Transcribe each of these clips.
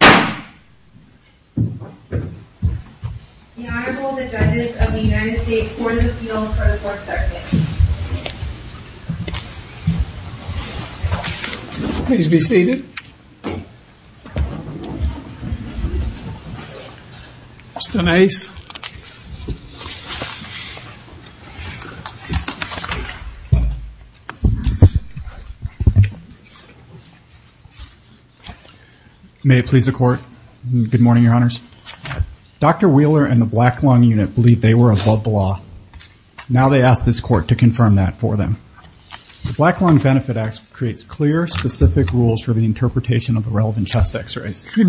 The Honorable, the Judges of the United States Court of Appeals for the Fourth Circuit. Dr. Wheeler and the Black Lung Unit believe they were above the law. Now they ask this court to confirm that for them. The Black Lung Benefit Act creates clear, specific rules for the interpretation of the relevant chest x-rays. The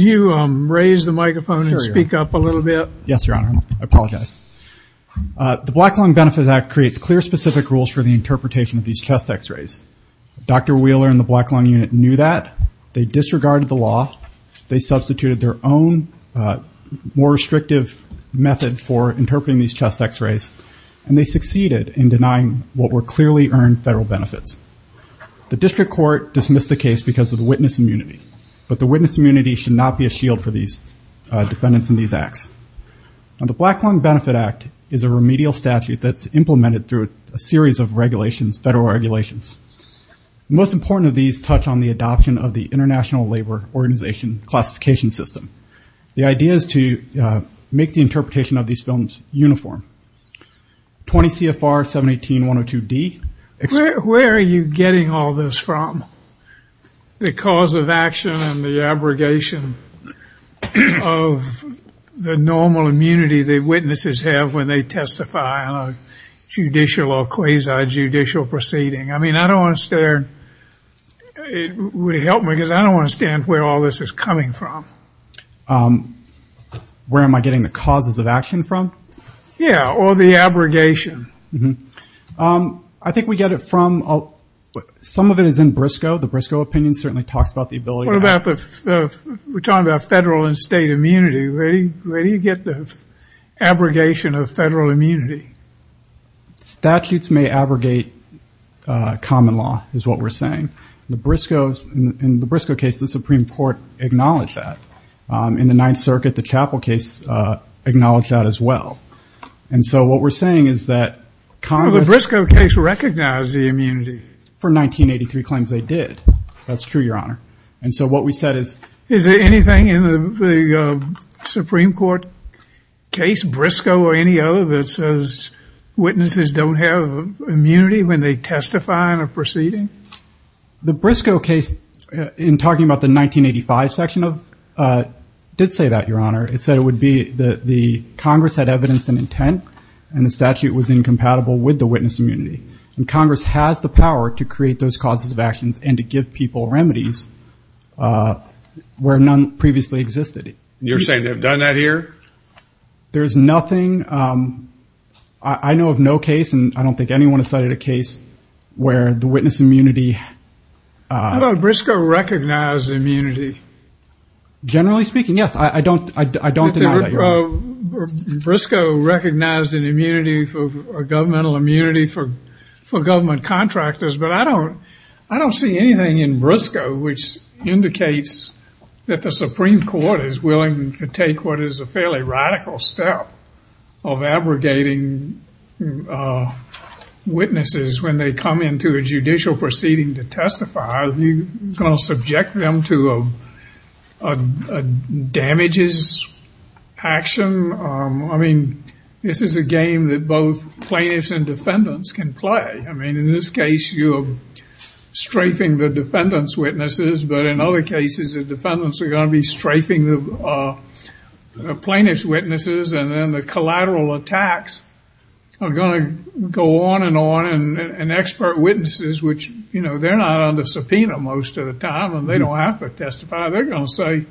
Black Lung Benefit Act creates clear, specific rules for the interpretation of these chest x-rays. Dr. Wheeler and the Black Lung Unit knew that, they disregarded the law, they substituted their own more restrictive method for interpreting these chest x-rays, and they succeeded in denying what were clearly earned federal benefits. The district court dismissed the case because of the witness immunity, but the witness immunity should not be a shield for these defendants in these acts. The Black Lung Benefit Act is a remedial statute that's implemented through a series of regulations, federal regulations. The most important of these touch on the adoption of the International Labor Organization classification system. The idea is to make the interpretation of these films uniform. 20 CFR 718-102D. Where are you getting all this from? The cause of action and the abrogation of the normal immunity that witnesses have when they testify on a judicial or quasi-judicial proceeding. I mean, I don't understand, it would help me because I don't understand where all this is coming from. Where am I getting the causes of action from? Yeah, or the abrogation. I think we get it from, some of it is in Briscoe. The Briscoe opinion certainly talks about the ability to have... We're talking about federal and state immunity. Where do you get the abrogation of federal immunity? Statutes may abrogate common law, is what we're saying. The Briscoes, in the Briscoe case, the Supreme Court, in the Apple case, acknowledged that as well. And so what we're saying is that Congress... Well, the Briscoe case recognized the immunity. For 1983 claims they did. That's true, Your Honor. And so what we said is... Is there anything in the Supreme Court case, Briscoe or any other, that says witnesses don't have immunity when they testify in a proceeding? The Briscoe case, in talking about the 1985 section, did say that, Your Honor. It said it would be that the Congress had evidenced an intent and the statute was incompatible with the witness immunity. And Congress has the power to create those causes of actions and to give people remedies where none previously existed. You're saying they've done that here? There's nothing... I know of no case, and I don't think anyone has cited a case where the witness immunity... How about Briscoe recognized immunity? Generally speaking, yes. I don't deny that, Your Honor. Briscoe recognized an immunity, a governmental immunity, for government contractors, but I don't see anything in Briscoe which indicates that the Supreme Court is willing to take what is a fairly radical step of abrogating witnesses when they come into a judicial proceeding to testify. Are you going to subject them to a damages action? I mean, this is a game that both plaintiffs and defendants can play. I mean, in this case, you're strafing the defendant's witnesses, but in other cases, the defendants are going to be strafing the plaintiff's witnesses, and then the collateral attacks are going to go on and on, and expert witnesses, which, you know, they're not on the subpoena most of the time, and they don't have to testify. They're going to say,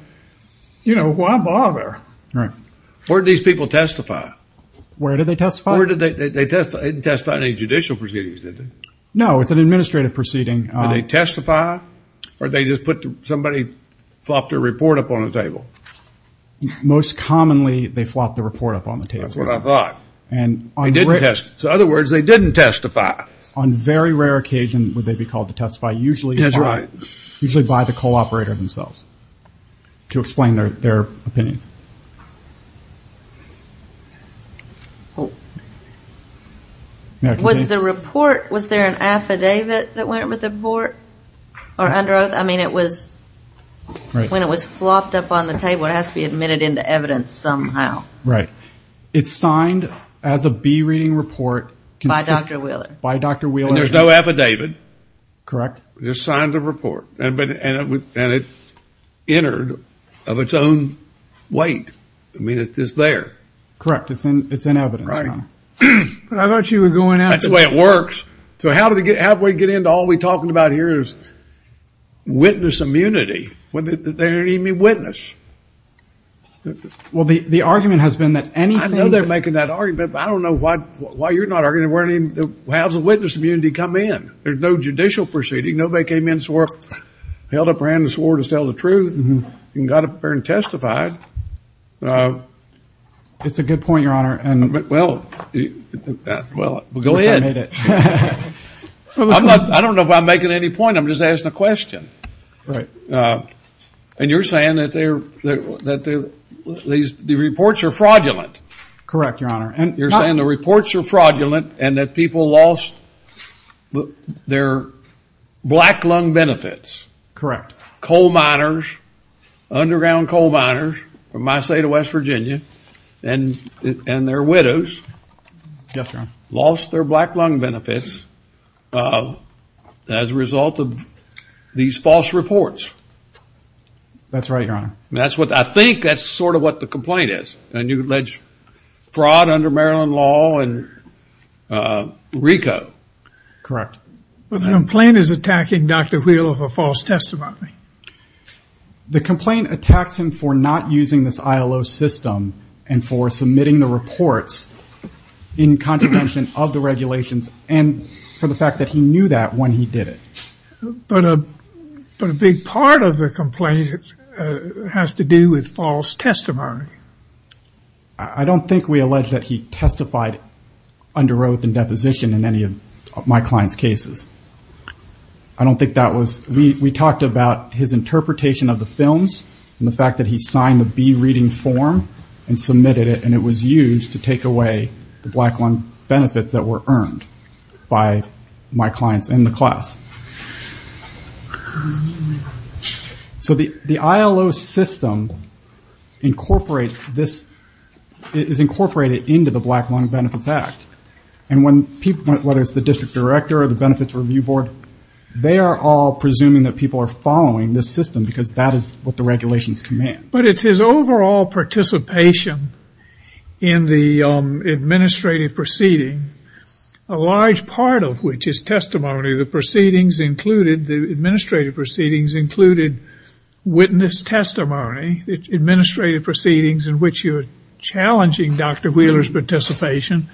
you know, why bother? Where did these people testify? Where did they testify? They didn't testify in any judicial proceedings, did they? No, it's an administrative proceeding. Did they testify, or did they just put somebody... flopped their report up on the table? Most commonly, they flopped the report up on the table. That's what I thought. So, in other words, they didn't testify. On very rare occasions would they be called to testify, usually by the co-operator themselves, to explain their opinions. Was the report, was there an affidavit that went with the report, or under oath? I mean, when it was flopped up on the table, it has to be admitted into evidence somehow. Right. It's signed as a bereading report... By Dr. Wheeler. By Dr. Wheeler. And there's no affidavit? Correct. It's signed a report, and it entered of its own weight. I mean, it's there. Correct. It's in evidence. Right. But I thought you were going after... That's the way it works. So, how do we get into all we're talking about here is witness immunity. They don't even need a witness. Well, the argument has been that anything... I know they're making that argument, but I don't know why you're not arguing how does a witness immunity come in? There's no judicial proceeding. Nobody came in, held up their hand and swore to tell the truth, and got up there and testified. It's a good point, Your Honor. Well, go ahead. I don't know if I'm making any point. I'm just asking a question. Right. And you're saying that the reports are fraudulent. Correct, Your Honor. You're saying the reports are fraudulent, and that people lost their black lung benefits. Correct. Coal miners, underground coal miners, from my state of these false reports. That's right, Your Honor. I think that's sort of what the complaint is. And you allege fraud under Maryland law and RICO. Correct. Well, the complaint is attacking Dr. Wheeler for false testimony. The complaint attacks him for not using this ILO system, and for submitting the reports in contravention of the regulations, and for the fact that he knew that when he did it. But a big part of the complaint has to do with false testimony. I don't think we allege that he testified under oath and deposition in any of my client's cases. I don't think that was, we talked about his interpretation of the films, and the fact that he signed the B reading form, and submitted it, and it was used to take away the black lung benefits that were earned by my clients in the class. So the ILO system incorporates this, is incorporated into the Black Lung Benefits Act. And when people, whether it's the district director or the benefits review board, they are all presuming that people are following this system, because that is what the regulations command. But it's his overall participation in the administrative proceeding, a large part of which is testimony. The proceedings included, the administrative proceedings included witness testimony. Administrative proceedings in which you are challenging Dr. Wheeler's participation,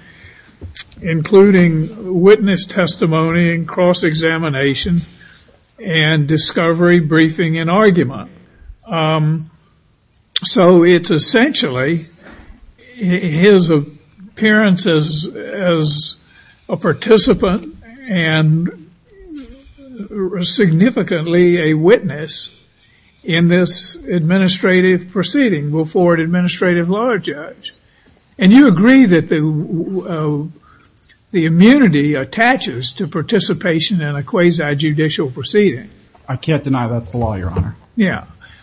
including witness testimony and cross-examination, and discovery, briefing, and argument. So it's essentially his appearance as a participant and significantly a witness in this administrative proceeding before an administrative law judge. And you agree that the immunity attaches to participation in a quasi-judicial proceeding. I can't deny that's the law, your honor.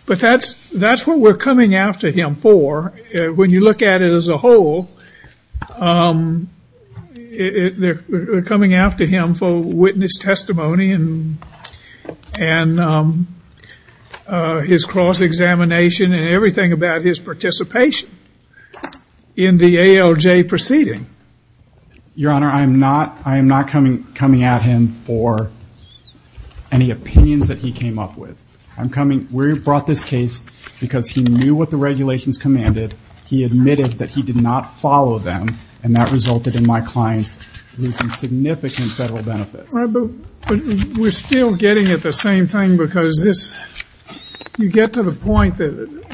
But that's what we're coming after him for, when you look at it as a whole. We're coming about his participation in the ALJ proceeding. Your honor, I am not coming at him for any opinions that he came up with. I'm coming, we brought this case because he knew what the regulations commanded. He admitted that he did not follow them and that resulted in my clients losing significant federal benefits. But we're still getting at the same thing because this, you get to the point that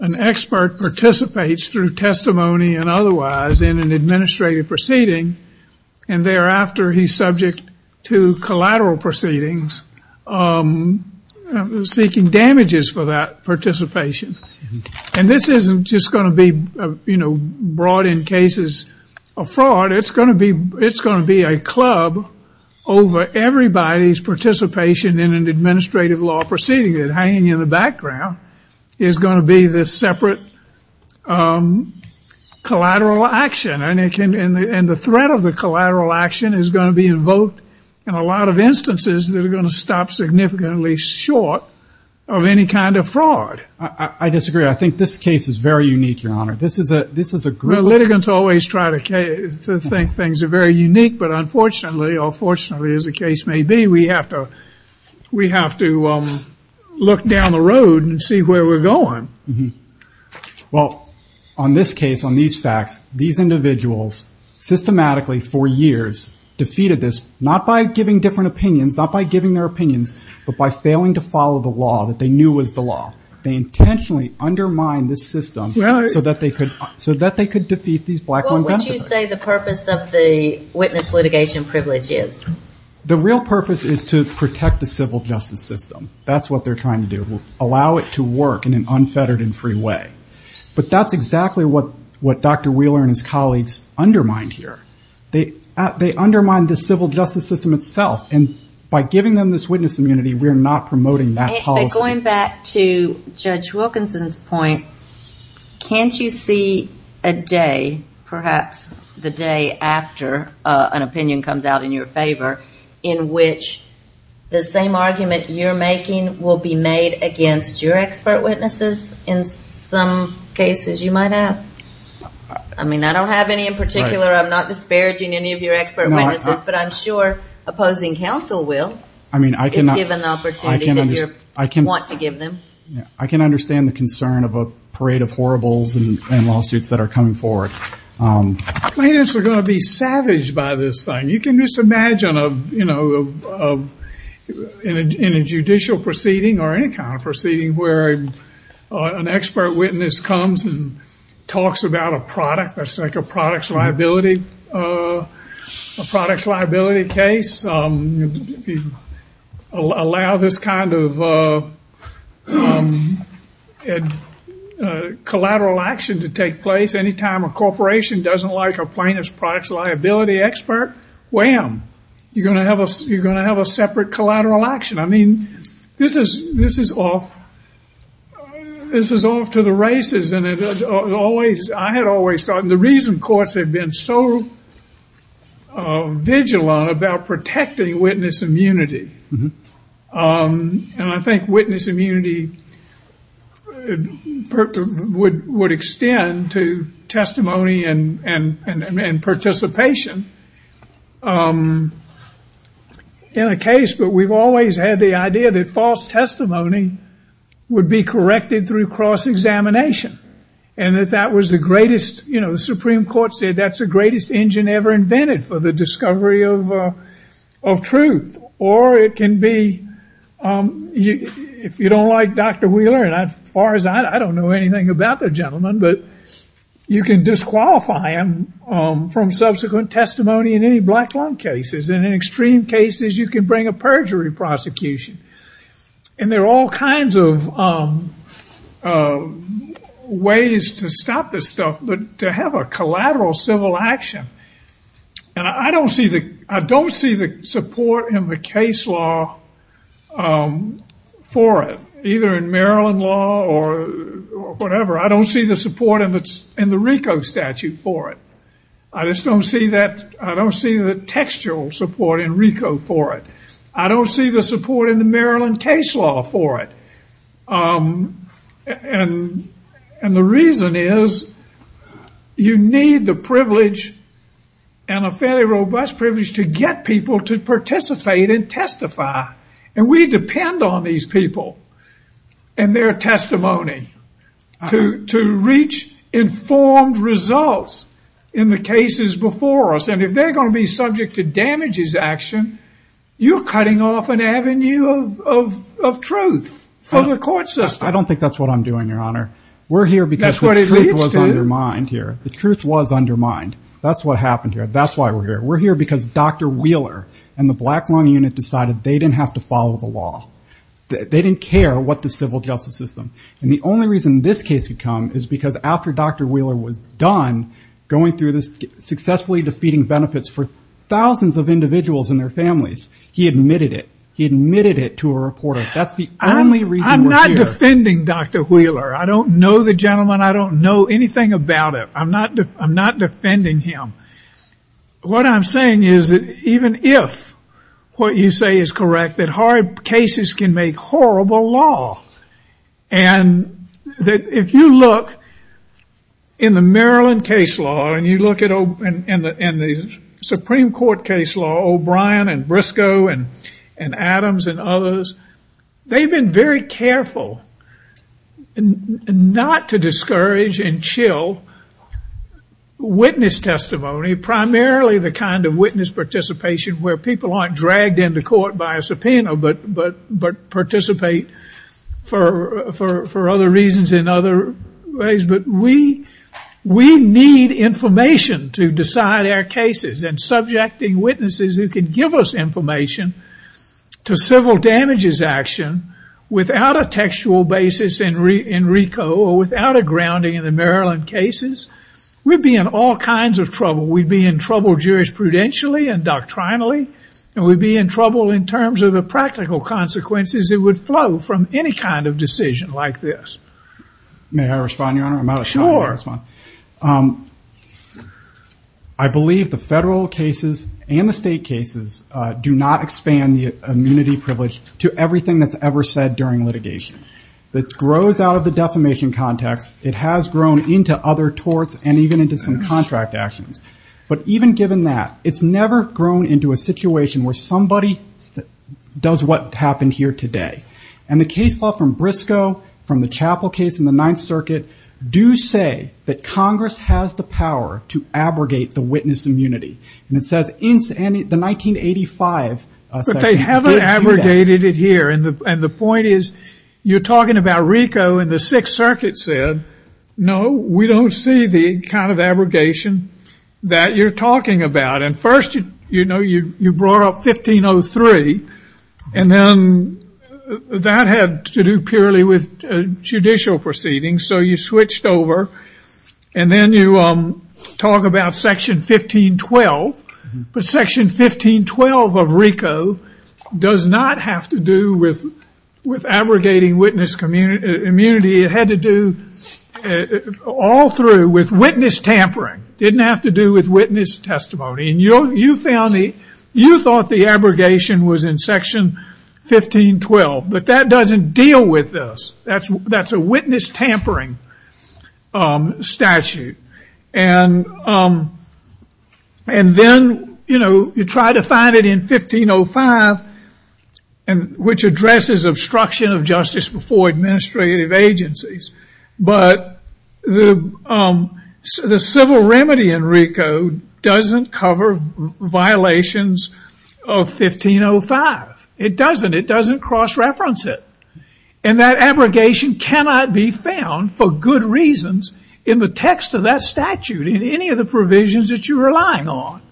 an expert participates through testimony and otherwise in an administrative proceeding and thereafter he's subject to collateral proceedings seeking damages for that participation. And this isn't just going to be brought in cases of fraud, it's going to be a club over everybody's participation in an administrative law proceeding that hanging in the background is going to be this separate collateral action. And the threat of the collateral action is going to be invoked in a lot of instances that are going to stop significantly short of any kind of fraud. I disagree. I think this case is very unique, your honor. This is a, this is a group. Litigants always try to think things are very unique, but unfortunately, or fortunately as the case may be, we have to, we have to look down the road and see where we're going. Well on this case, on these facts, these individuals systematically for years defeated this, not by giving different opinions, not by giving their opinions, but by failing to follow the law. They intentionally undermine this system so that they could, so that they could defeat these black women. What would you say the purpose of the witness litigation privilege is? The real purpose is to protect the civil justice system. That's what they're trying to do. Allow it to work in an unfettered and free way. But that's exactly what, what Dr. Wheeler and his colleagues undermine here. They, they undermine the civil justice system itself and by giving them this witness immunity, we're not promoting that policy. But going back to Judge Wilkinson's point, can't you see a day, perhaps the day after an opinion comes out in your favor, in which the same argument you're making will be made against your expert witnesses in some cases you might have? I mean, I don't have any in particular, I'm not disparaging any of your expert witnesses, but I'm sure opposing counsel will. I mean, I can understand the concern of a parade of horribles and lawsuits that are coming forward. Plaintiffs are going to be savaged by this thing. You can just imagine a, you know, in a judicial proceeding or any kind of proceeding where an expert witness comes and talks about a product, let's take a product's liability, a product's liability case, allow this kind of collateral action to take place. Anytime a corporation doesn't like a plaintiff's product's liability expert, wham, you're going to have a separate collateral action. I mean, this is off, this is off to the races and it always, I had always thought, and the reason courts have been so vigilant about protecting witness immunity, and I think witness immunity would extend to testimony and participation in a case, but we've always had the idea that false testimony would be corrected through cross-examination, and that that was the greatest, you know, the Supreme Court said that's the greatest engine ever invented for the discovery of truth, or it can be, if you don't like Dr. Wheeler, and as far as I know, I don't know anything about the gentleman, but you can disqualify him from subsequent testimony in many black lung cases, and in extreme cases you can bring a perjury prosecution, and there are all kinds of ways to stop this stuff, but to have a collateral civil action, and I don't see the, I don't see the support in the case law for it, either in Maryland law or whatever, I don't see the support in the RICO statute for it. I just don't see that, I don't see the textual support in RICO for it. I don't see the support in the Maryland case law for it, and the reason is you need the privilege and a fairly robust privilege to get people to participate and testify, and we depend on these people and their testimony to reach informed results in the cases before us, and if they're going to be subject to damages action, you're cutting off an avenue of truth for the court system. I don't think that's what I'm doing, your honor. We're here because the truth was undermined here. The truth was undermined. That's what happened here. That's why we're here. We're here because Dr. Wheeler and the black lung unit decided they didn't have to follow the only reason this case would come is because after Dr. Wheeler was done going through this successfully defeating benefits for thousands of individuals and their families, he admitted it. He admitted it to a reporter. That's the only reason we're here. I'm not defending Dr. Wheeler. I don't know the gentleman. I don't know anything about him. I'm not defending him. What I'm saying is that even if what you say is correct, that our cases can make horrible law, and if you look in the Maryland case law and you look at the Supreme Court case law, O'Brien and Briscoe and Adams and others, they've been very careful not to discourage and chill witness testimony, primarily the kind of witness participation where people aren't dragged into court by a subpoena but participate for other reasons in other ways. We need information to decide our cases and subjecting witnesses who can give us information to civil damages action without a textual basis in RICO or without a grounding in the Maryland cases, we'd be in all kinds of trouble. We'd be in trouble jurisprudentially and doctrinally, and we'd be in trouble in terms of the practical consequences that would flow from any kind of decision like this. May I respond, Your Honor? I'm out of time. I believe the federal cases and the state cases do not expand the immunity privilege to everything that's ever said during litigation. That grows out of the defamation context. It has grown into other torts and even into some contract actions. But even given that, it's never grown into a situation where somebody does what happened here today. And the case law from Briscoe, from the Chapel case in the Ninth Circuit, do say that Congress has the power to abrogate the witness immunity. And it says in the 1985 section, it did do that. But they haven't abrogated it here. And the point is, you're talking about RICO and the abrogation that you're talking about. And first, you know, you brought up 1503. And then that had to do purely with judicial proceedings. So you switched over. And then you talk about Section 1512. But Section 1512 of RICO does not have to do with abrogating witness immunity. It had to do all through with witness tampering. It didn't have to do with witness testimony. And you thought the abrogation was in Section 1512. But that doesn't deal with this. That's a witness tampering statute. And then, you know, you try to find it in 1505, which addresses obstruction of justice before administrative agencies. But the civil remedy in RICO doesn't cover violations of 1505. It doesn't. It doesn't cross-reference it. And that abrogation cannot be found for good reasons in the text of that statute, in any of the provisions that you're relying on.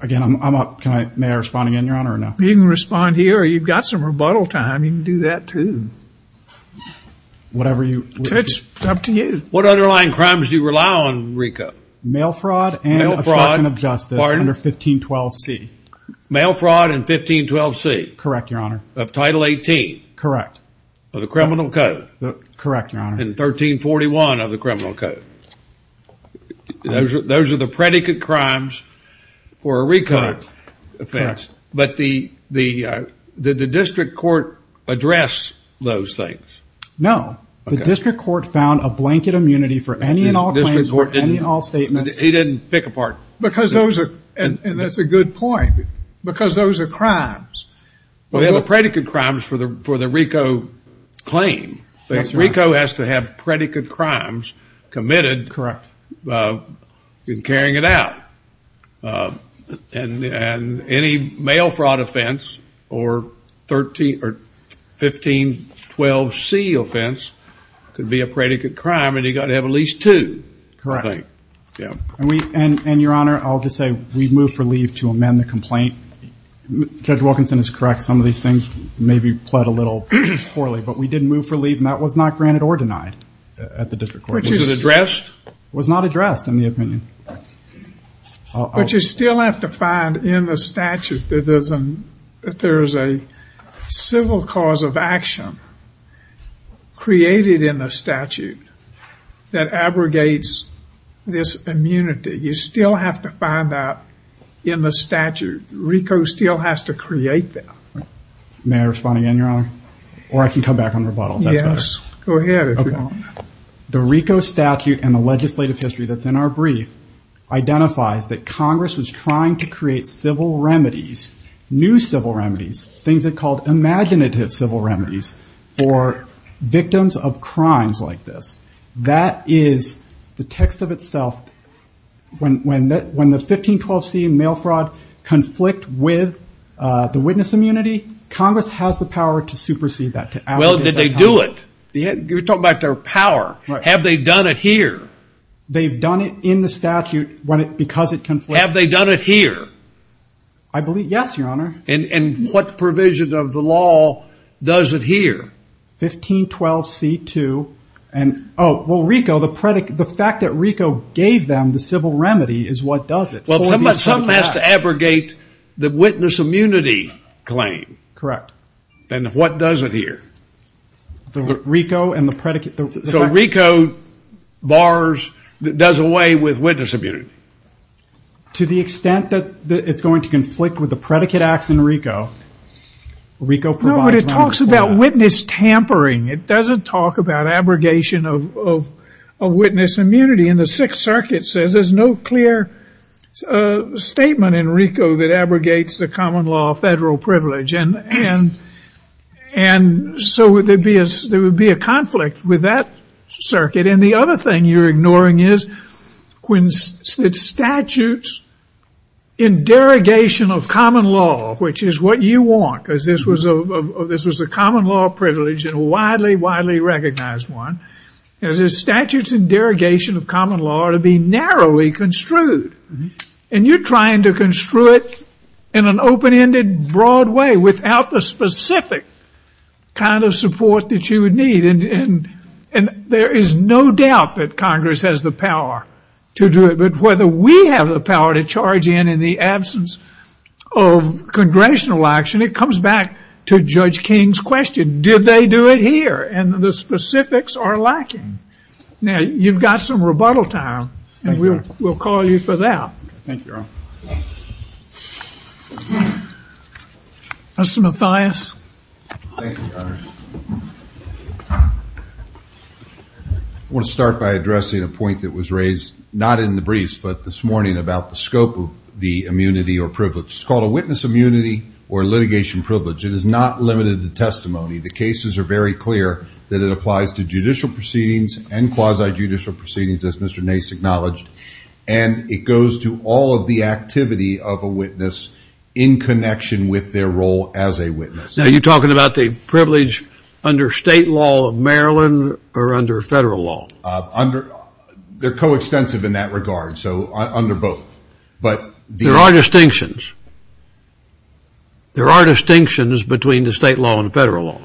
Again, I'm up. May I respond again, Your Honor, or no? You can respond here, or you've got some rebuttal time. You can do that, too. Whatever you wish. It's up to you. What underlying crimes do you rely on in RICO? Mail fraud and obstruction of justice under 1512C. Mail fraud and 1512C? Correct, Your Honor. Of Title 18? Correct. Of the criminal code? Correct, Your Honor. And 1341 of the criminal code? Those are the predicate crimes for a RICO offense. But did the district court address those things? No. The district court found a blanket immunity for any and all claims, for any and all statements. He didn't pick apart? Because those are, and that's a good point, because those are crimes. Well, they're the predicate crimes for the RICO claim. RICO has to have predicate crimes committed. Correct. In carrying it out. And any mail fraud offense or 1512C offense could be a predicate crime, and you've got to have at least two, I think. Correct. And Your Honor, I'll just say we moved for leave to amend the complaint. Judge Wilkinson is correct. Some of these things maybe pled a little poorly, but we did move for leave, and that was not granted or denied at the district court. Was it addressed? It was not addressed, in the opinion. But you still have to find in the statute that there is a civil cause of action created in the statute that abrogates this immunity. You still have to find that in the statute. RICO still has to create that. May I respond again, Your Honor? Or I can come back on rebuttal, if that's better. Yes. Go ahead, if you want. The RICO statute and the legislative history that's in our brief identifies that Congress was trying to create civil remedies, new civil remedies, things that are called imaginative civil remedies for victims of crimes like this. That is the text of itself. When the 1512C mail fraud conflict with the witness immunity, Congress has the power to supersede that. Well, did they do it? You're talking about their power. Have they done it here? They've done it in the statute because it conflicts. Have they done it here? I believe, yes, Your Honor. And what provision of the law does it here? 1512C2. Oh, well, RICO, the fact that RICO gave them the civil remedy is what does it for these subjects. Well, someone has to abrogate the witness immunity claim. Correct. And what does it here? The RICO and the predicate. So RICO bars, does away with witness immunity. To the extent that it's going to conflict with the predicate acts in RICO, RICO provides No, but it talks about witness tampering. It doesn't talk about abrogation of witness immunity. And the Sixth Circuit says there's no clear statement in RICO that abrogates the common law federal privilege. And so there would be a conflict with that circuit. And the other thing you're ignoring is when it's statutes in derogation of common law, which is what you want, because this was a common law privilege and a widely, widely recognized one, is the statutes and derogation of common law to be narrowly construed. And you're trying to construe it in an open-ended, broad way without the specific kind of support that you would need. And there is no doubt that Congress has the power to do it, but whether we have the power to charge in in the absence of congressional action, it comes back to Judge King's question. Did they do it here? And the specifics are lacking. Now, you've got some rebuttal time, and we'll call you for that. Thank you, Your Honor. Mr. Mathias. I want to start by addressing a point that was raised, not in the briefs, but this morning about the scope of the immunity or privilege. It's called a witness immunity or litigation privilege. It is not limited to testimony. The cases are very clear that it applies to judicial proceedings and quasi-judicial proceedings, as Mr. Nace acknowledged, and it goes to all of the activity of a witness in connection with their role as a witness. Now, you're talking about the privilege under state law of Maryland or under federal law? They're coextensive in that regard, so under both. But the... There are distinctions. There are distinctions between the state law and the federal law.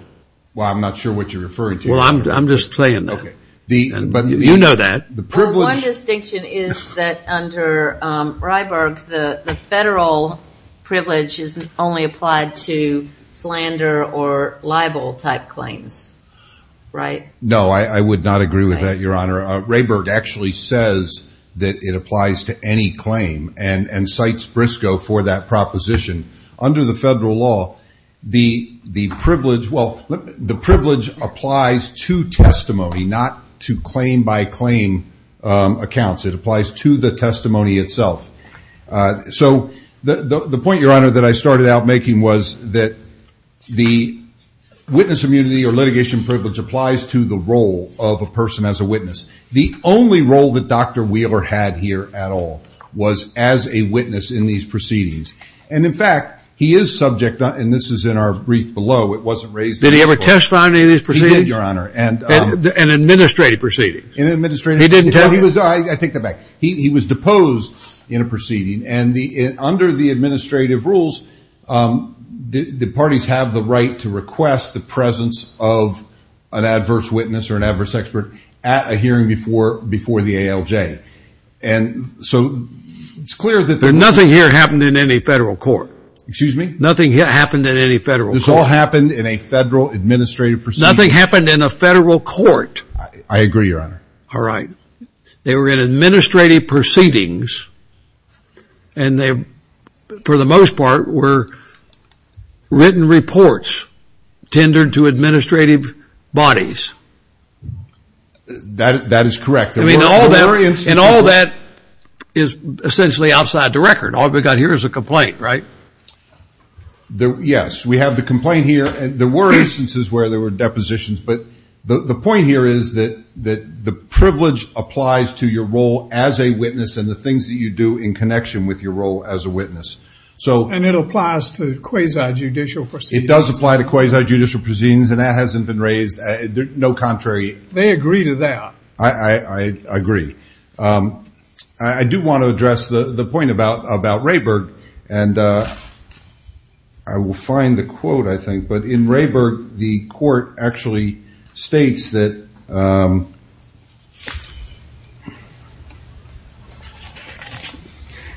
Well, I'm not sure what you're referring to, Your Honor. Well, I'm just saying that. Okay. The... But... You know that. The privilege... Well, one distinction is that under Rehberg, the federal privilege is only applied to slander or libel-type claims, right? No, I would not agree with that, Your Honor. Rehberg actually says that it applies to any claim and cites Briscoe for that proposition. Under the federal law, the privilege... Well, the privilege applies to testimony, not to claim-by-claim accounts. It applies to the testimony itself. So the point, Your Honor, that I started out making was that the witness immunity or litigation privilege applies to the role of a person as a witness. The only role that Dr. Wheeler had here at all was as a witness in these proceedings. And in fact, he is subject... And this is in our brief below. It wasn't raised... Did he ever testify in any of these proceedings? He did, Your Honor. And... In administrative proceedings? In administrative... He didn't tell you? He was... I take that back. He was deposed in a proceeding. And under the administrative rules, the parties have the right to request the presence of an adverse witness or an adverse expert at a hearing before the ALJ. And so it's clear that... Nothing here happened in any federal court. Excuse me? Nothing here happened in any federal court. This all happened in a federal administrative proceeding? Nothing happened in a federal court. I agree, Your Honor. All right. They were in administrative proceedings, and they, for the most part, were written reports tendered to administrative bodies? That is correct. There were instances... And all that is essentially outside the record. All we've got here is a complaint, right? Yes. We have the complaint here and there were instances where there were depositions, but the point here is that the privilege applies to your role as a witness, and the things that you do in connection with your role as a witness. So... And it applies to quasi-judicial proceedings? It does apply to quasi-judicial proceedings, and that hasn't been raised. No contrary... They agree to that. I agree. I do want to address the point about Rayburg, and I will find the quote, I think. But in Rayburg, the court actually states that,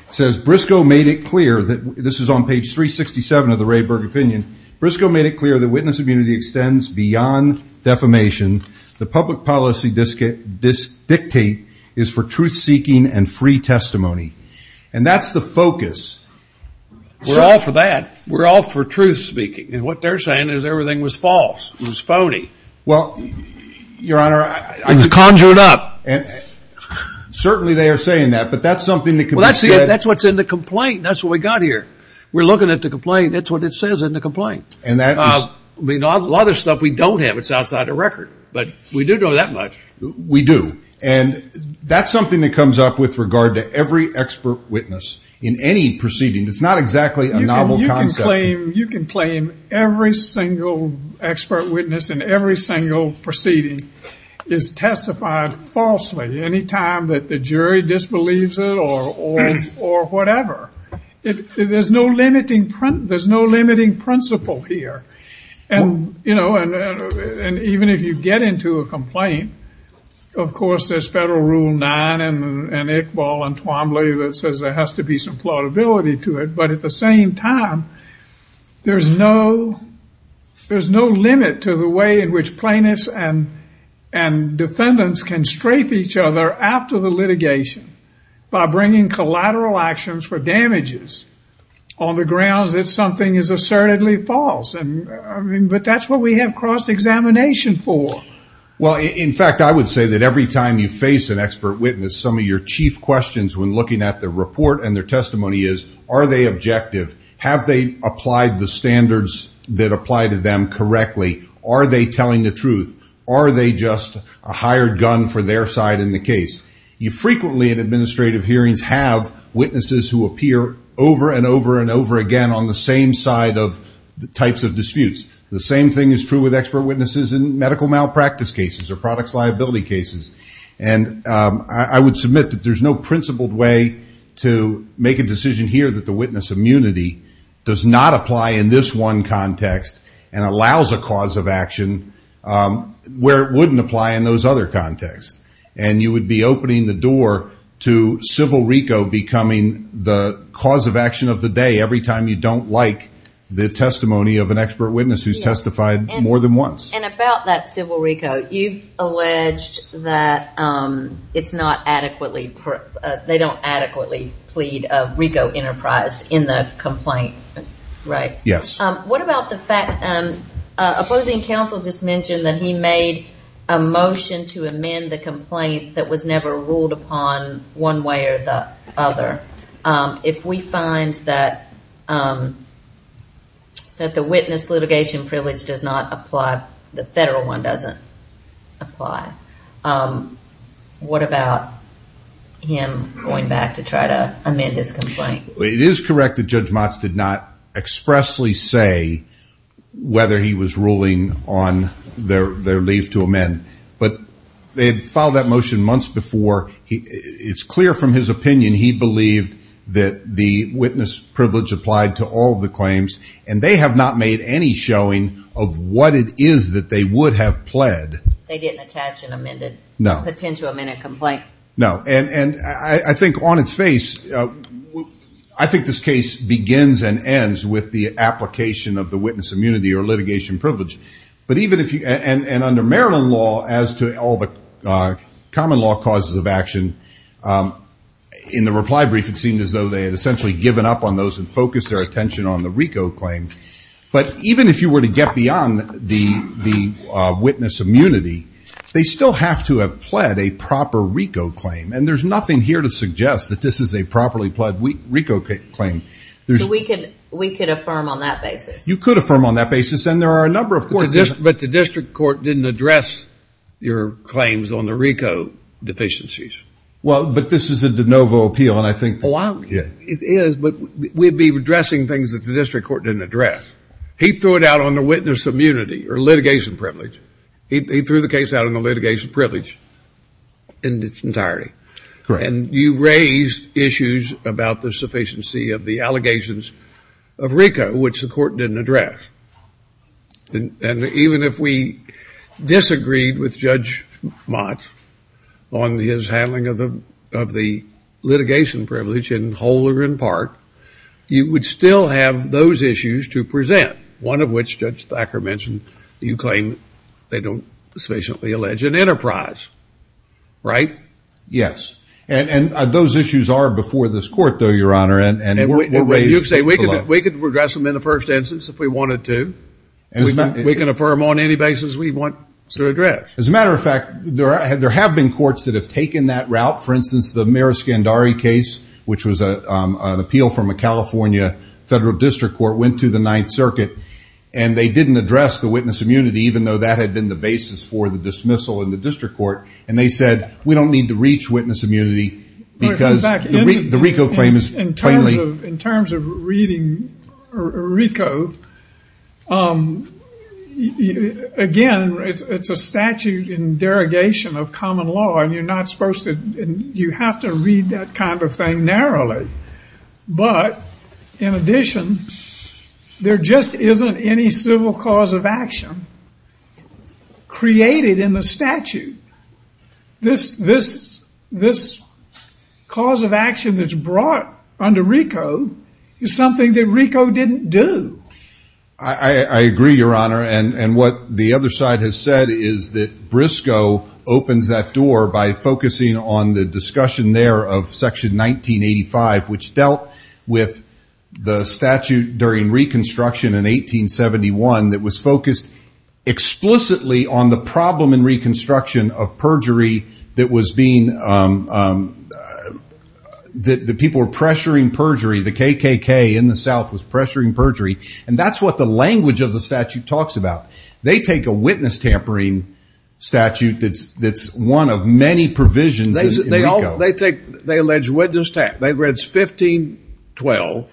it says, Briscoe made it clear, this is on page 367 of the Rayburg opinion, Briscoe made it clear that witness immunity extends beyond defamation. The public policy dictate is for truth-seeking and free testimony. And that's the focus. So... We're all for that. We're all for truth-speaking. And what they're saying is everything was false, it was phony. Well, Your Honor... It was conjured up. Certainly they are saying that, but that's something that can be said... That's what's in the complaint, that's what we got here. We're looking at the complaint, that's what it says in the complaint. And that is... I mean, a lot of the stuff we don't have, it's outside the record. But we do know that much. We do. And that's something that comes up with regard to every expert witness in any proceeding. It's not exactly a novel concept. You can claim every single expert witness in every single proceeding is testified falsely any time that the jury disbelieves it or whatever. There's no limiting principle here. And even if you get into a complaint, of course, there's Federal Rule 9 and Iqbal and Twombly that says there has to be some plaudibility to it. But at the same time, there's no limit to the way in which plaintiffs and defendants can strafe each other after the litigation by bringing collateral actions for damages on the grounds that something is assertedly false. But that's what we have cross-examination for. Well, in fact, I would say that every time you face an expert witness, some of your chief questions when looking at the report and their testimony is, are they objective? Have they applied the standards that apply to them correctly? Are they telling the truth? Are they just a hired gun for their side in the case? You frequently in administrative hearings have witnesses who appear over and over and over again on the same side of the types of disputes. The same thing is true with expert witnesses in medical malpractice cases or products liability cases. And I would submit that there's no principled way to make a decision here that the witness immunity does not apply in this one context and allows a cause of action where it wouldn't apply in those other contexts. And you would be opening the door to civil RICO becoming the cause of action of the day every time you don't like the testimony of an expert witness who's testified more than once. And about that civil RICO, you've alleged that it's not adequately, they don't adequately plead RICO enterprise in the complaint, right? Yes. What about the fact, opposing counsel just mentioned that he made a motion to amend the complaint that was never ruled upon one way or the other. If we find that the witness litigation privilege does not apply, the federal one doesn't apply, what about him going back to try to amend his complaint? It is correct that Judge Motz did not expressly say whether he was ruling on their leave to amend, but they had filed that motion months before. It's clear from his opinion, he believed that the witness privilege applied to all the claims and they have not made any showing of what it is that they would have pled. They didn't attach and amend it? No. Potentially amend a complaint? No. And I think on its face, I think this case begins and ends with the application of the witness immunity or litigation privilege. But even if you, and under Maryland law as to all the common law causes of action, in the reply brief it seemed as though they had essentially given up on those and focused their attention on the RICO claim. But even if you were to get beyond the witness immunity, they still have to have pled a proper RICO claim and there's nothing here to suggest that this is a properly pled RICO claim. So we could affirm on that basis? You could affirm on that basis and there are a number of courts. But the district court didn't address your claims on the RICO deficiencies? Well, but this is a de novo appeal and I think... Well, it is, but we'd be addressing things that the district court didn't address. He threw it out on the witness immunity or litigation privilege. He threw the case out on the litigation privilege in its entirety. And you raised issues about the sufficiency of the allegations of RICO, which the court didn't address. And even if we disagreed with Judge Mott on his handling of the litigation privilege in whole or in part, you would still have those issues to present. One of which Judge Thacker mentioned, you claim they don't sufficiently allege an enterprise. Right? Yes. And those issues are before this court though, Your Honor. And you say we could address them in the first instance if we wanted to. We can affirm on any basis we want to address. As a matter of fact, there have been courts that have taken that route. For instance, the Mera Scandari case, which was an appeal from a California federal district court, went to the Ninth Circuit and they didn't address the witness immunity, even though that had been the basis for the dismissal in the district court. And they said, we don't need to reach witness immunity because the RICO claim is plainly In terms of reading RICO, again, it's a statute in derogation of common law and you're not supposed to, you have to read that kind of thing narrowly. But, in addition, there just isn't any civil cause of action created in the statute. This cause of action that's brought under RICO is something that RICO didn't do. I agree, Your Honor. And what the other side has said is that Briscoe opens that door by focusing on the discussion there of Section 1985, which dealt with the statute during Reconstruction in 1871 that was focused explicitly on the problem in Reconstruction of perjury that was being, that the people were pressuring perjury, the KKK in the South was pressuring perjury. And that's what the language of the statute talks about. They take a witness tampering statute that's one of many provisions in RICO. They allege witness tampering, they allege 1512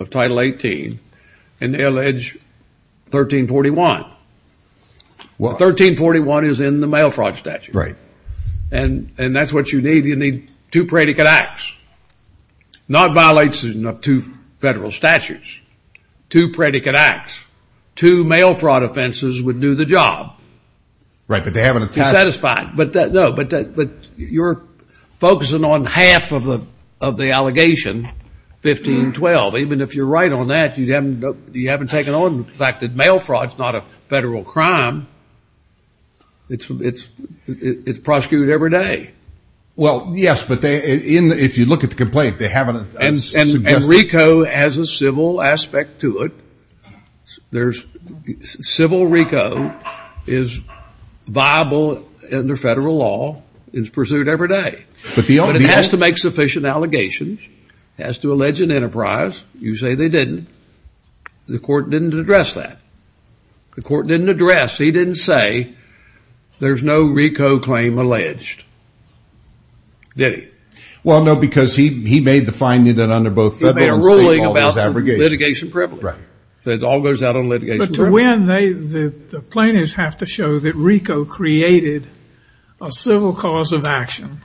of Title 18 and they allege 1341. 1341 is in the mail fraud statute. And that's what you need. You need two predicate acts. Not violation of two federal statutes. Two predicate acts. Two mail fraud offenses would do the job. Right, but they haven't attached... Satisfied. But no, but you're focusing on half of the allegation, 1512. Even if you're right on that, you haven't taken on the fact that mail fraud's not a federal crime, it's prosecuted every day. Well, yes, but if you look at the complaint, they haven't... And RICO has a civil aspect to it. There's civil RICO is viable under federal law, is pursued every day, but it has to make sufficient allegations, has to allege an enterprise. You say they didn't. The court didn't address that. The court didn't address, he didn't say, there's no RICO claim alleged. Did he? Well no, because he made the finding that under both federal and state law there's abrogation. He made a ruling about litigation privilege. Right. So it all goes out on litigation privilege. But to win, the plaintiffs have to show that RICO created a civil cause of action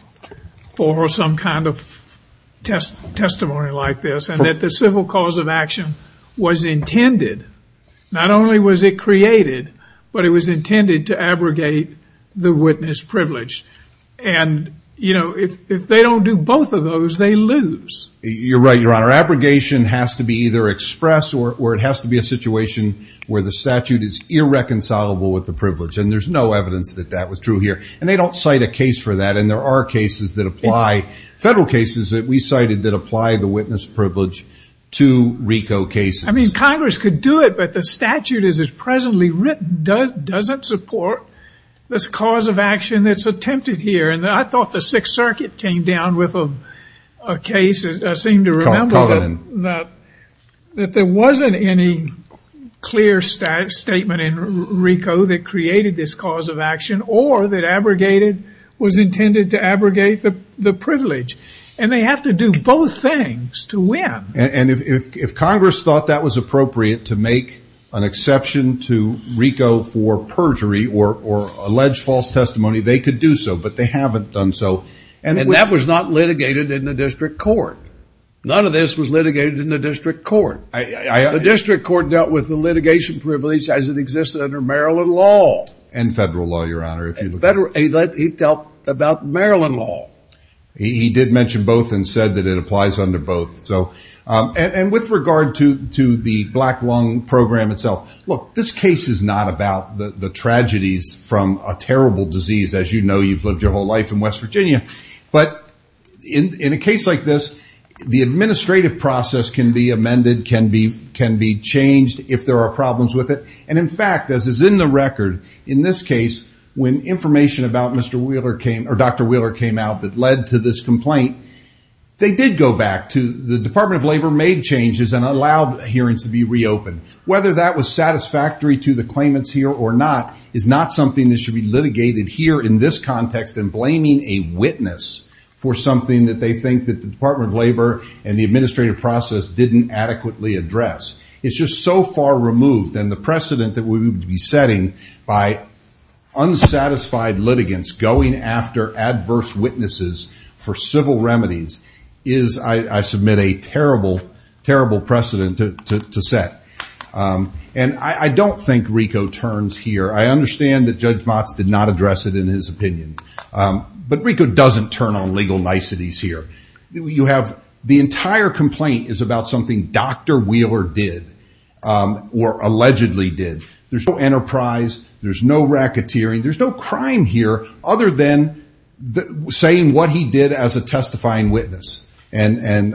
for some kind of testimony like this, and that the civil cause of action was intended. Not only was it created, but it was intended to abrogate the witness privilege. And if they don't do both of those, they lose. You're right, Your Honor. Their abrogation has to be either expressed or it has to be a situation where the statute is irreconcilable with the privilege. And there's no evidence that that was true here. And they don't cite a case for that. And there are cases that apply, federal cases that we cited that apply the witness privilege to RICO cases. I mean, Congress could do it, but the statute as it's presently written doesn't support this cause of action that's attempted here. And I thought the Sixth Circuit came down with a case, I seem to remember, that there wasn't any clear statement in RICO that created this cause of action or that was intended to abrogate the privilege. And they have to do both things to win. And if Congress thought that was appropriate to make an exception to RICO for perjury or alleged false testimony, they could do so, but they haven't done so. And that was not litigated in the district court. None of this was litigated in the district court. The district court dealt with the litigation privilege as it existed under Maryland law. And federal law, Your Honor. And federal law. He dealt about Maryland law. He did mention both and said that it applies under both. And with regard to the Black Lung Program itself, look, this case is not about the tragedies from a terrible disease. As you know, you've lived your whole life in West Virginia. But in a case like this, the administrative process can be amended, can be changed if there are problems with it. And in fact, as is in the record, in this case, when information about Dr. Wheeler came out that led to this complaint, they did go back to the Department of Labor made changes and allowed hearings to be reopened. Whether that was satisfactory to the claimants here or not is not something that should be litigated here in this context in blaming a witness for something that they think that the Department of Labor and the administrative process didn't adequately address. It's just so far removed. And the precedent that we would be setting by unsatisfied litigants going after adverse witnesses for civil remedies is, I submit, a terrible, terrible precedent to set. And I don't think RICO turns here. I understand that Judge Motz did not address it in his opinion. But RICO doesn't turn on legal niceties here. The entire complaint is about something Dr. Wheeler did or allegedly did. There's no enterprise. There's no racketeering. There's no crime here other than saying what he did as a testifying witness. And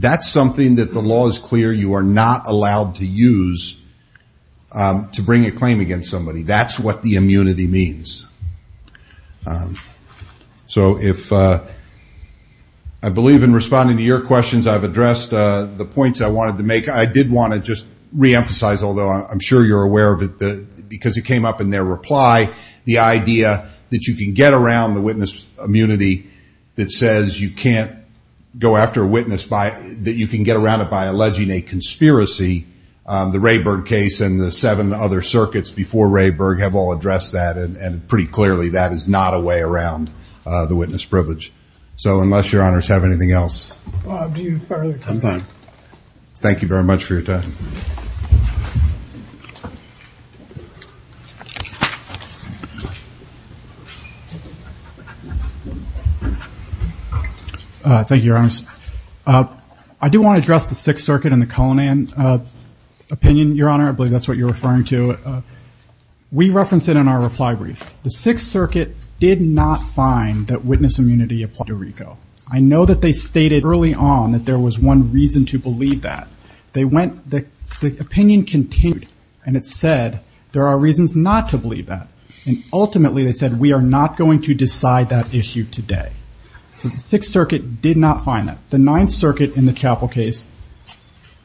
that's something that the law is clear you are not allowed to use to bring a claim against somebody. That's what the immunity means. So if I believe in responding to your questions, I've addressed the points I wanted to make. I did want to just reemphasize, although I'm sure you're aware of it, because it came up in their reply, the idea that you can get around the witness immunity that says you can't go after a witness by, that you can get around it by alleging a conspiracy. The Rayburg case and the seven other circuits before Rayburg have all addressed that. And pretty clearly, that is not a way around the witness privilege. So unless your honors have anything else. Thank you very much for your time. Thank you, your honors. I do want to address the Sixth Circuit and the Cullinan opinion, your honor. I believe that's what you're referring to. We referenced it in our reply brief. The Sixth Circuit did not find that witness immunity applied to Rico. I know that they stated early on that there was one reason to believe that. They went, the opinion continued, and it said there are reasons not to believe that. And ultimately, they said we are not going to decide that issue today. So the Sixth Circuit did not find that. The Ninth Circuit in the Chappell case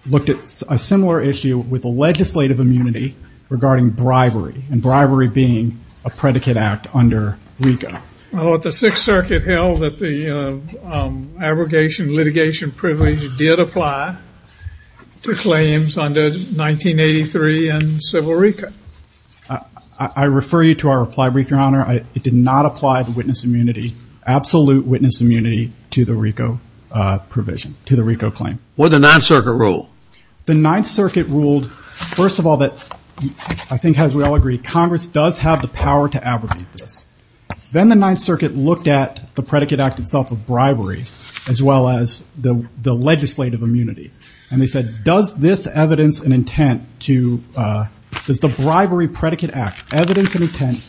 looked at a similar issue with a legislative immunity regarding bribery, and bribery being a predicate act under Rico. I thought the Sixth Circuit held that the abrogation litigation privilege did apply to claims under 1983 and civil Rico. I refer you to our reply brief, your honor. It did not apply the witness immunity, absolute witness immunity, to the Rico provision, to the Rico claim. What did the Ninth Circuit rule? The Ninth Circuit ruled, first of all, that I think, as we all agree, Congress does have the power to abrogate this. Then the Ninth Circuit looked at the predicate act itself of bribery, as well as the legislative immunity. And they said, does this evidence and intent to, does the bribery predicate act evidence and intent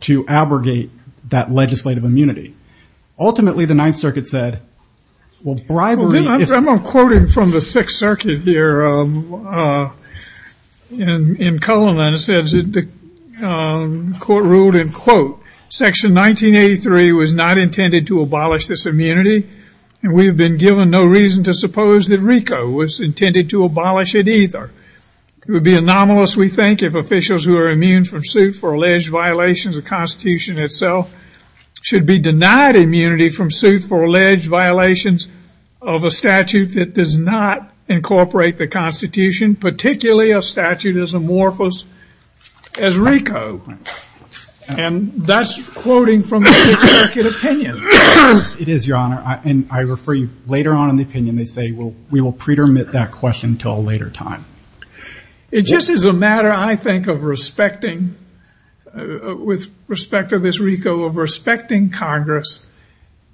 to abrogate that legislative immunity? Ultimately, the Ninth Circuit said, well, bribery is- Here, in Cullinan, it says that the court ruled, and quote, section 1983 was not intended to abolish this immunity. And we've been given no reason to suppose that Rico was intended to abolish it either. It would be anomalous, we think, if officials who are immune from suit for alleged violations of Constitution itself should be denied immunity from suit for incorporate the Constitution, particularly a statute as amorphous as Rico. And that's quoting from the Ninth Circuit opinion. It is, your honor, and I refer you later on in the opinion, they say we will pretermit that question until a later time. It just is a matter, I think, of respecting, with respect to this Rico, of respecting Congress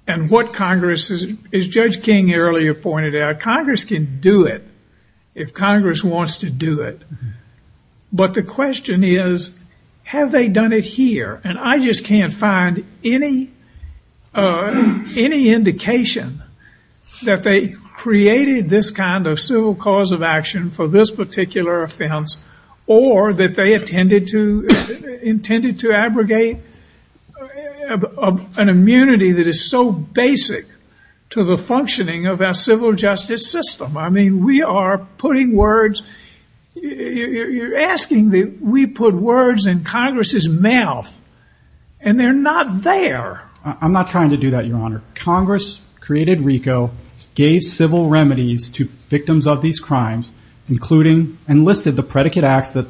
and what Congress, as Judge King earlier pointed out, Congress can do it if Congress wants to do it. But the question is, have they done it here? And I just can't find any indication that they created this kind of civil cause of action for this particular offense, or that they intended to abrogate an immunity that is so unconstitutional in the federal justice system. I mean, we are putting words, you're asking that we put words in Congress's mouth. And they're not there. I'm not trying to do that, your honor. Congress created Rico, gave civil remedies to victims of these crimes, including enlisted the predicate acts that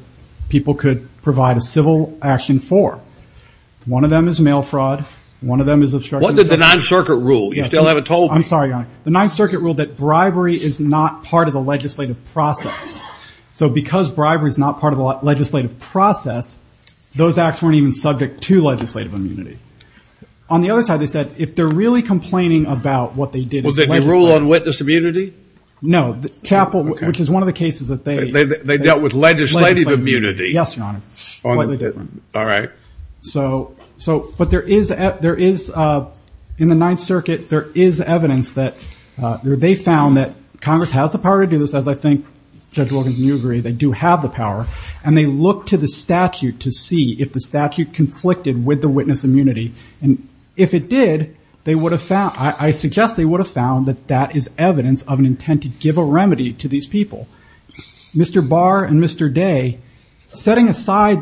people could provide a civil action for. One of them is mail fraud, one of them is obstruction of justice. What did the Ninth Circuit rule? You still haven't told me. I'm sorry, your honor. The Ninth Circuit ruled that bribery is not part of the legislative process. So because bribery is not part of the legislative process, those acts weren't even subject to legislative immunity. On the other side, they said, if they're really complaining about what they did- Was it the rule on witness immunity? No, the chapel, which is one of the cases that they- They dealt with legislative immunity. Yes, your honor, slightly different. All right. So, but there is, in the Ninth Circuit, there is evidence that they found that Congress has the power to do this, as I think Judge Wilkins and you agree. They do have the power. And they looked to the statute to see if the statute conflicted with the witness immunity. And if it did, they would have found, I suggest they would have found that that is evidence of an intent to give a remedy to these people. Mr. Barr and Mr. Day, setting aside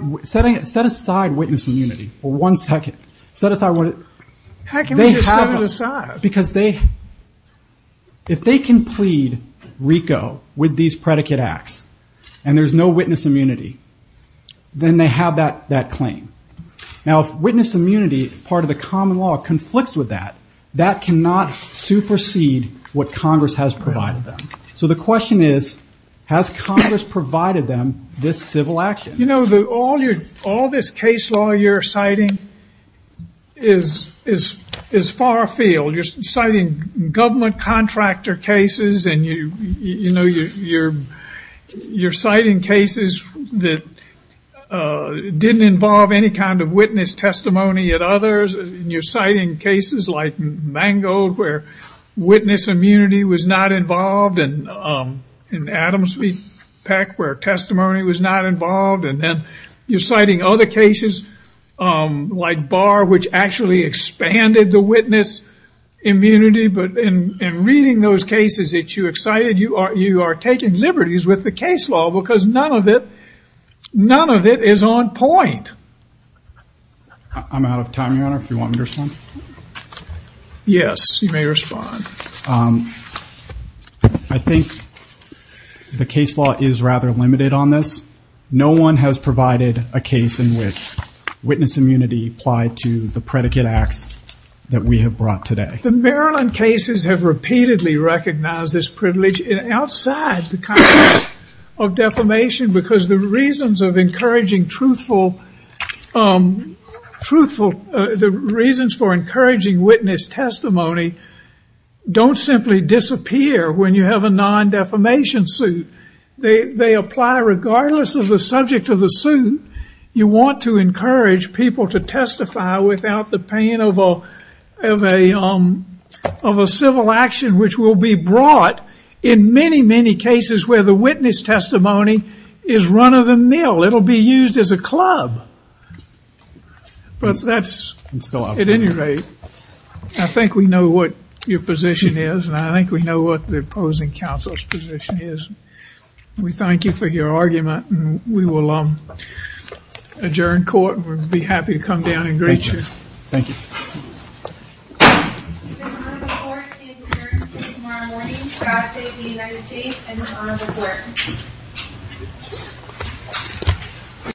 witness immunity for one second. Set aside what- How can we just set it aside? Because if they can plead RICO with these predicate acts, and there's no witness immunity, then they have that claim. Now, if witness immunity, part of the common law, conflicts with that, that cannot supersede what Congress has provided them. So the question is, has Congress provided them this civil action? You know, all this case law you're citing is far afield. You're citing government contractor cases, and you're citing cases that didn't involve any kind of witness testimony at others. You're citing cases like Mangold, where witness immunity was not involved, and Adams v. Peck, where testimony was not involved. And then you're citing other cases like Barr, which actually expanded the witness immunity. But in reading those cases that you excited, you are taking liberties with the case law, because none of it is on point. I'm out of time, Your Honor, if you want me to respond. Yes, you may respond. I think the case law is rather limited on this. No one has provided a case in which witness immunity applied to the predicate acts that we have brought today. The Maryland cases have repeatedly recognized this privilege, and outside the context of defamation, because the reasons of encouraging witness testimony don't simply disappear when you have a non-defamation suit. They apply regardless of the subject of the suit. You want to encourage people to testify without the pain of a civil action, which will be brought in many, many cases where the witness testimony is run-of-the-mill. It'll be used as a club. But that's, at any rate, I think we know what your position is, and I think we know what the opposing counsel's position is. We thank you for your argument, and we will adjourn court, and we'll be happy to come down and greet you. Thank you. The honorable court adjourns until tomorrow morning. God save the United States and the honorable court. Thank you.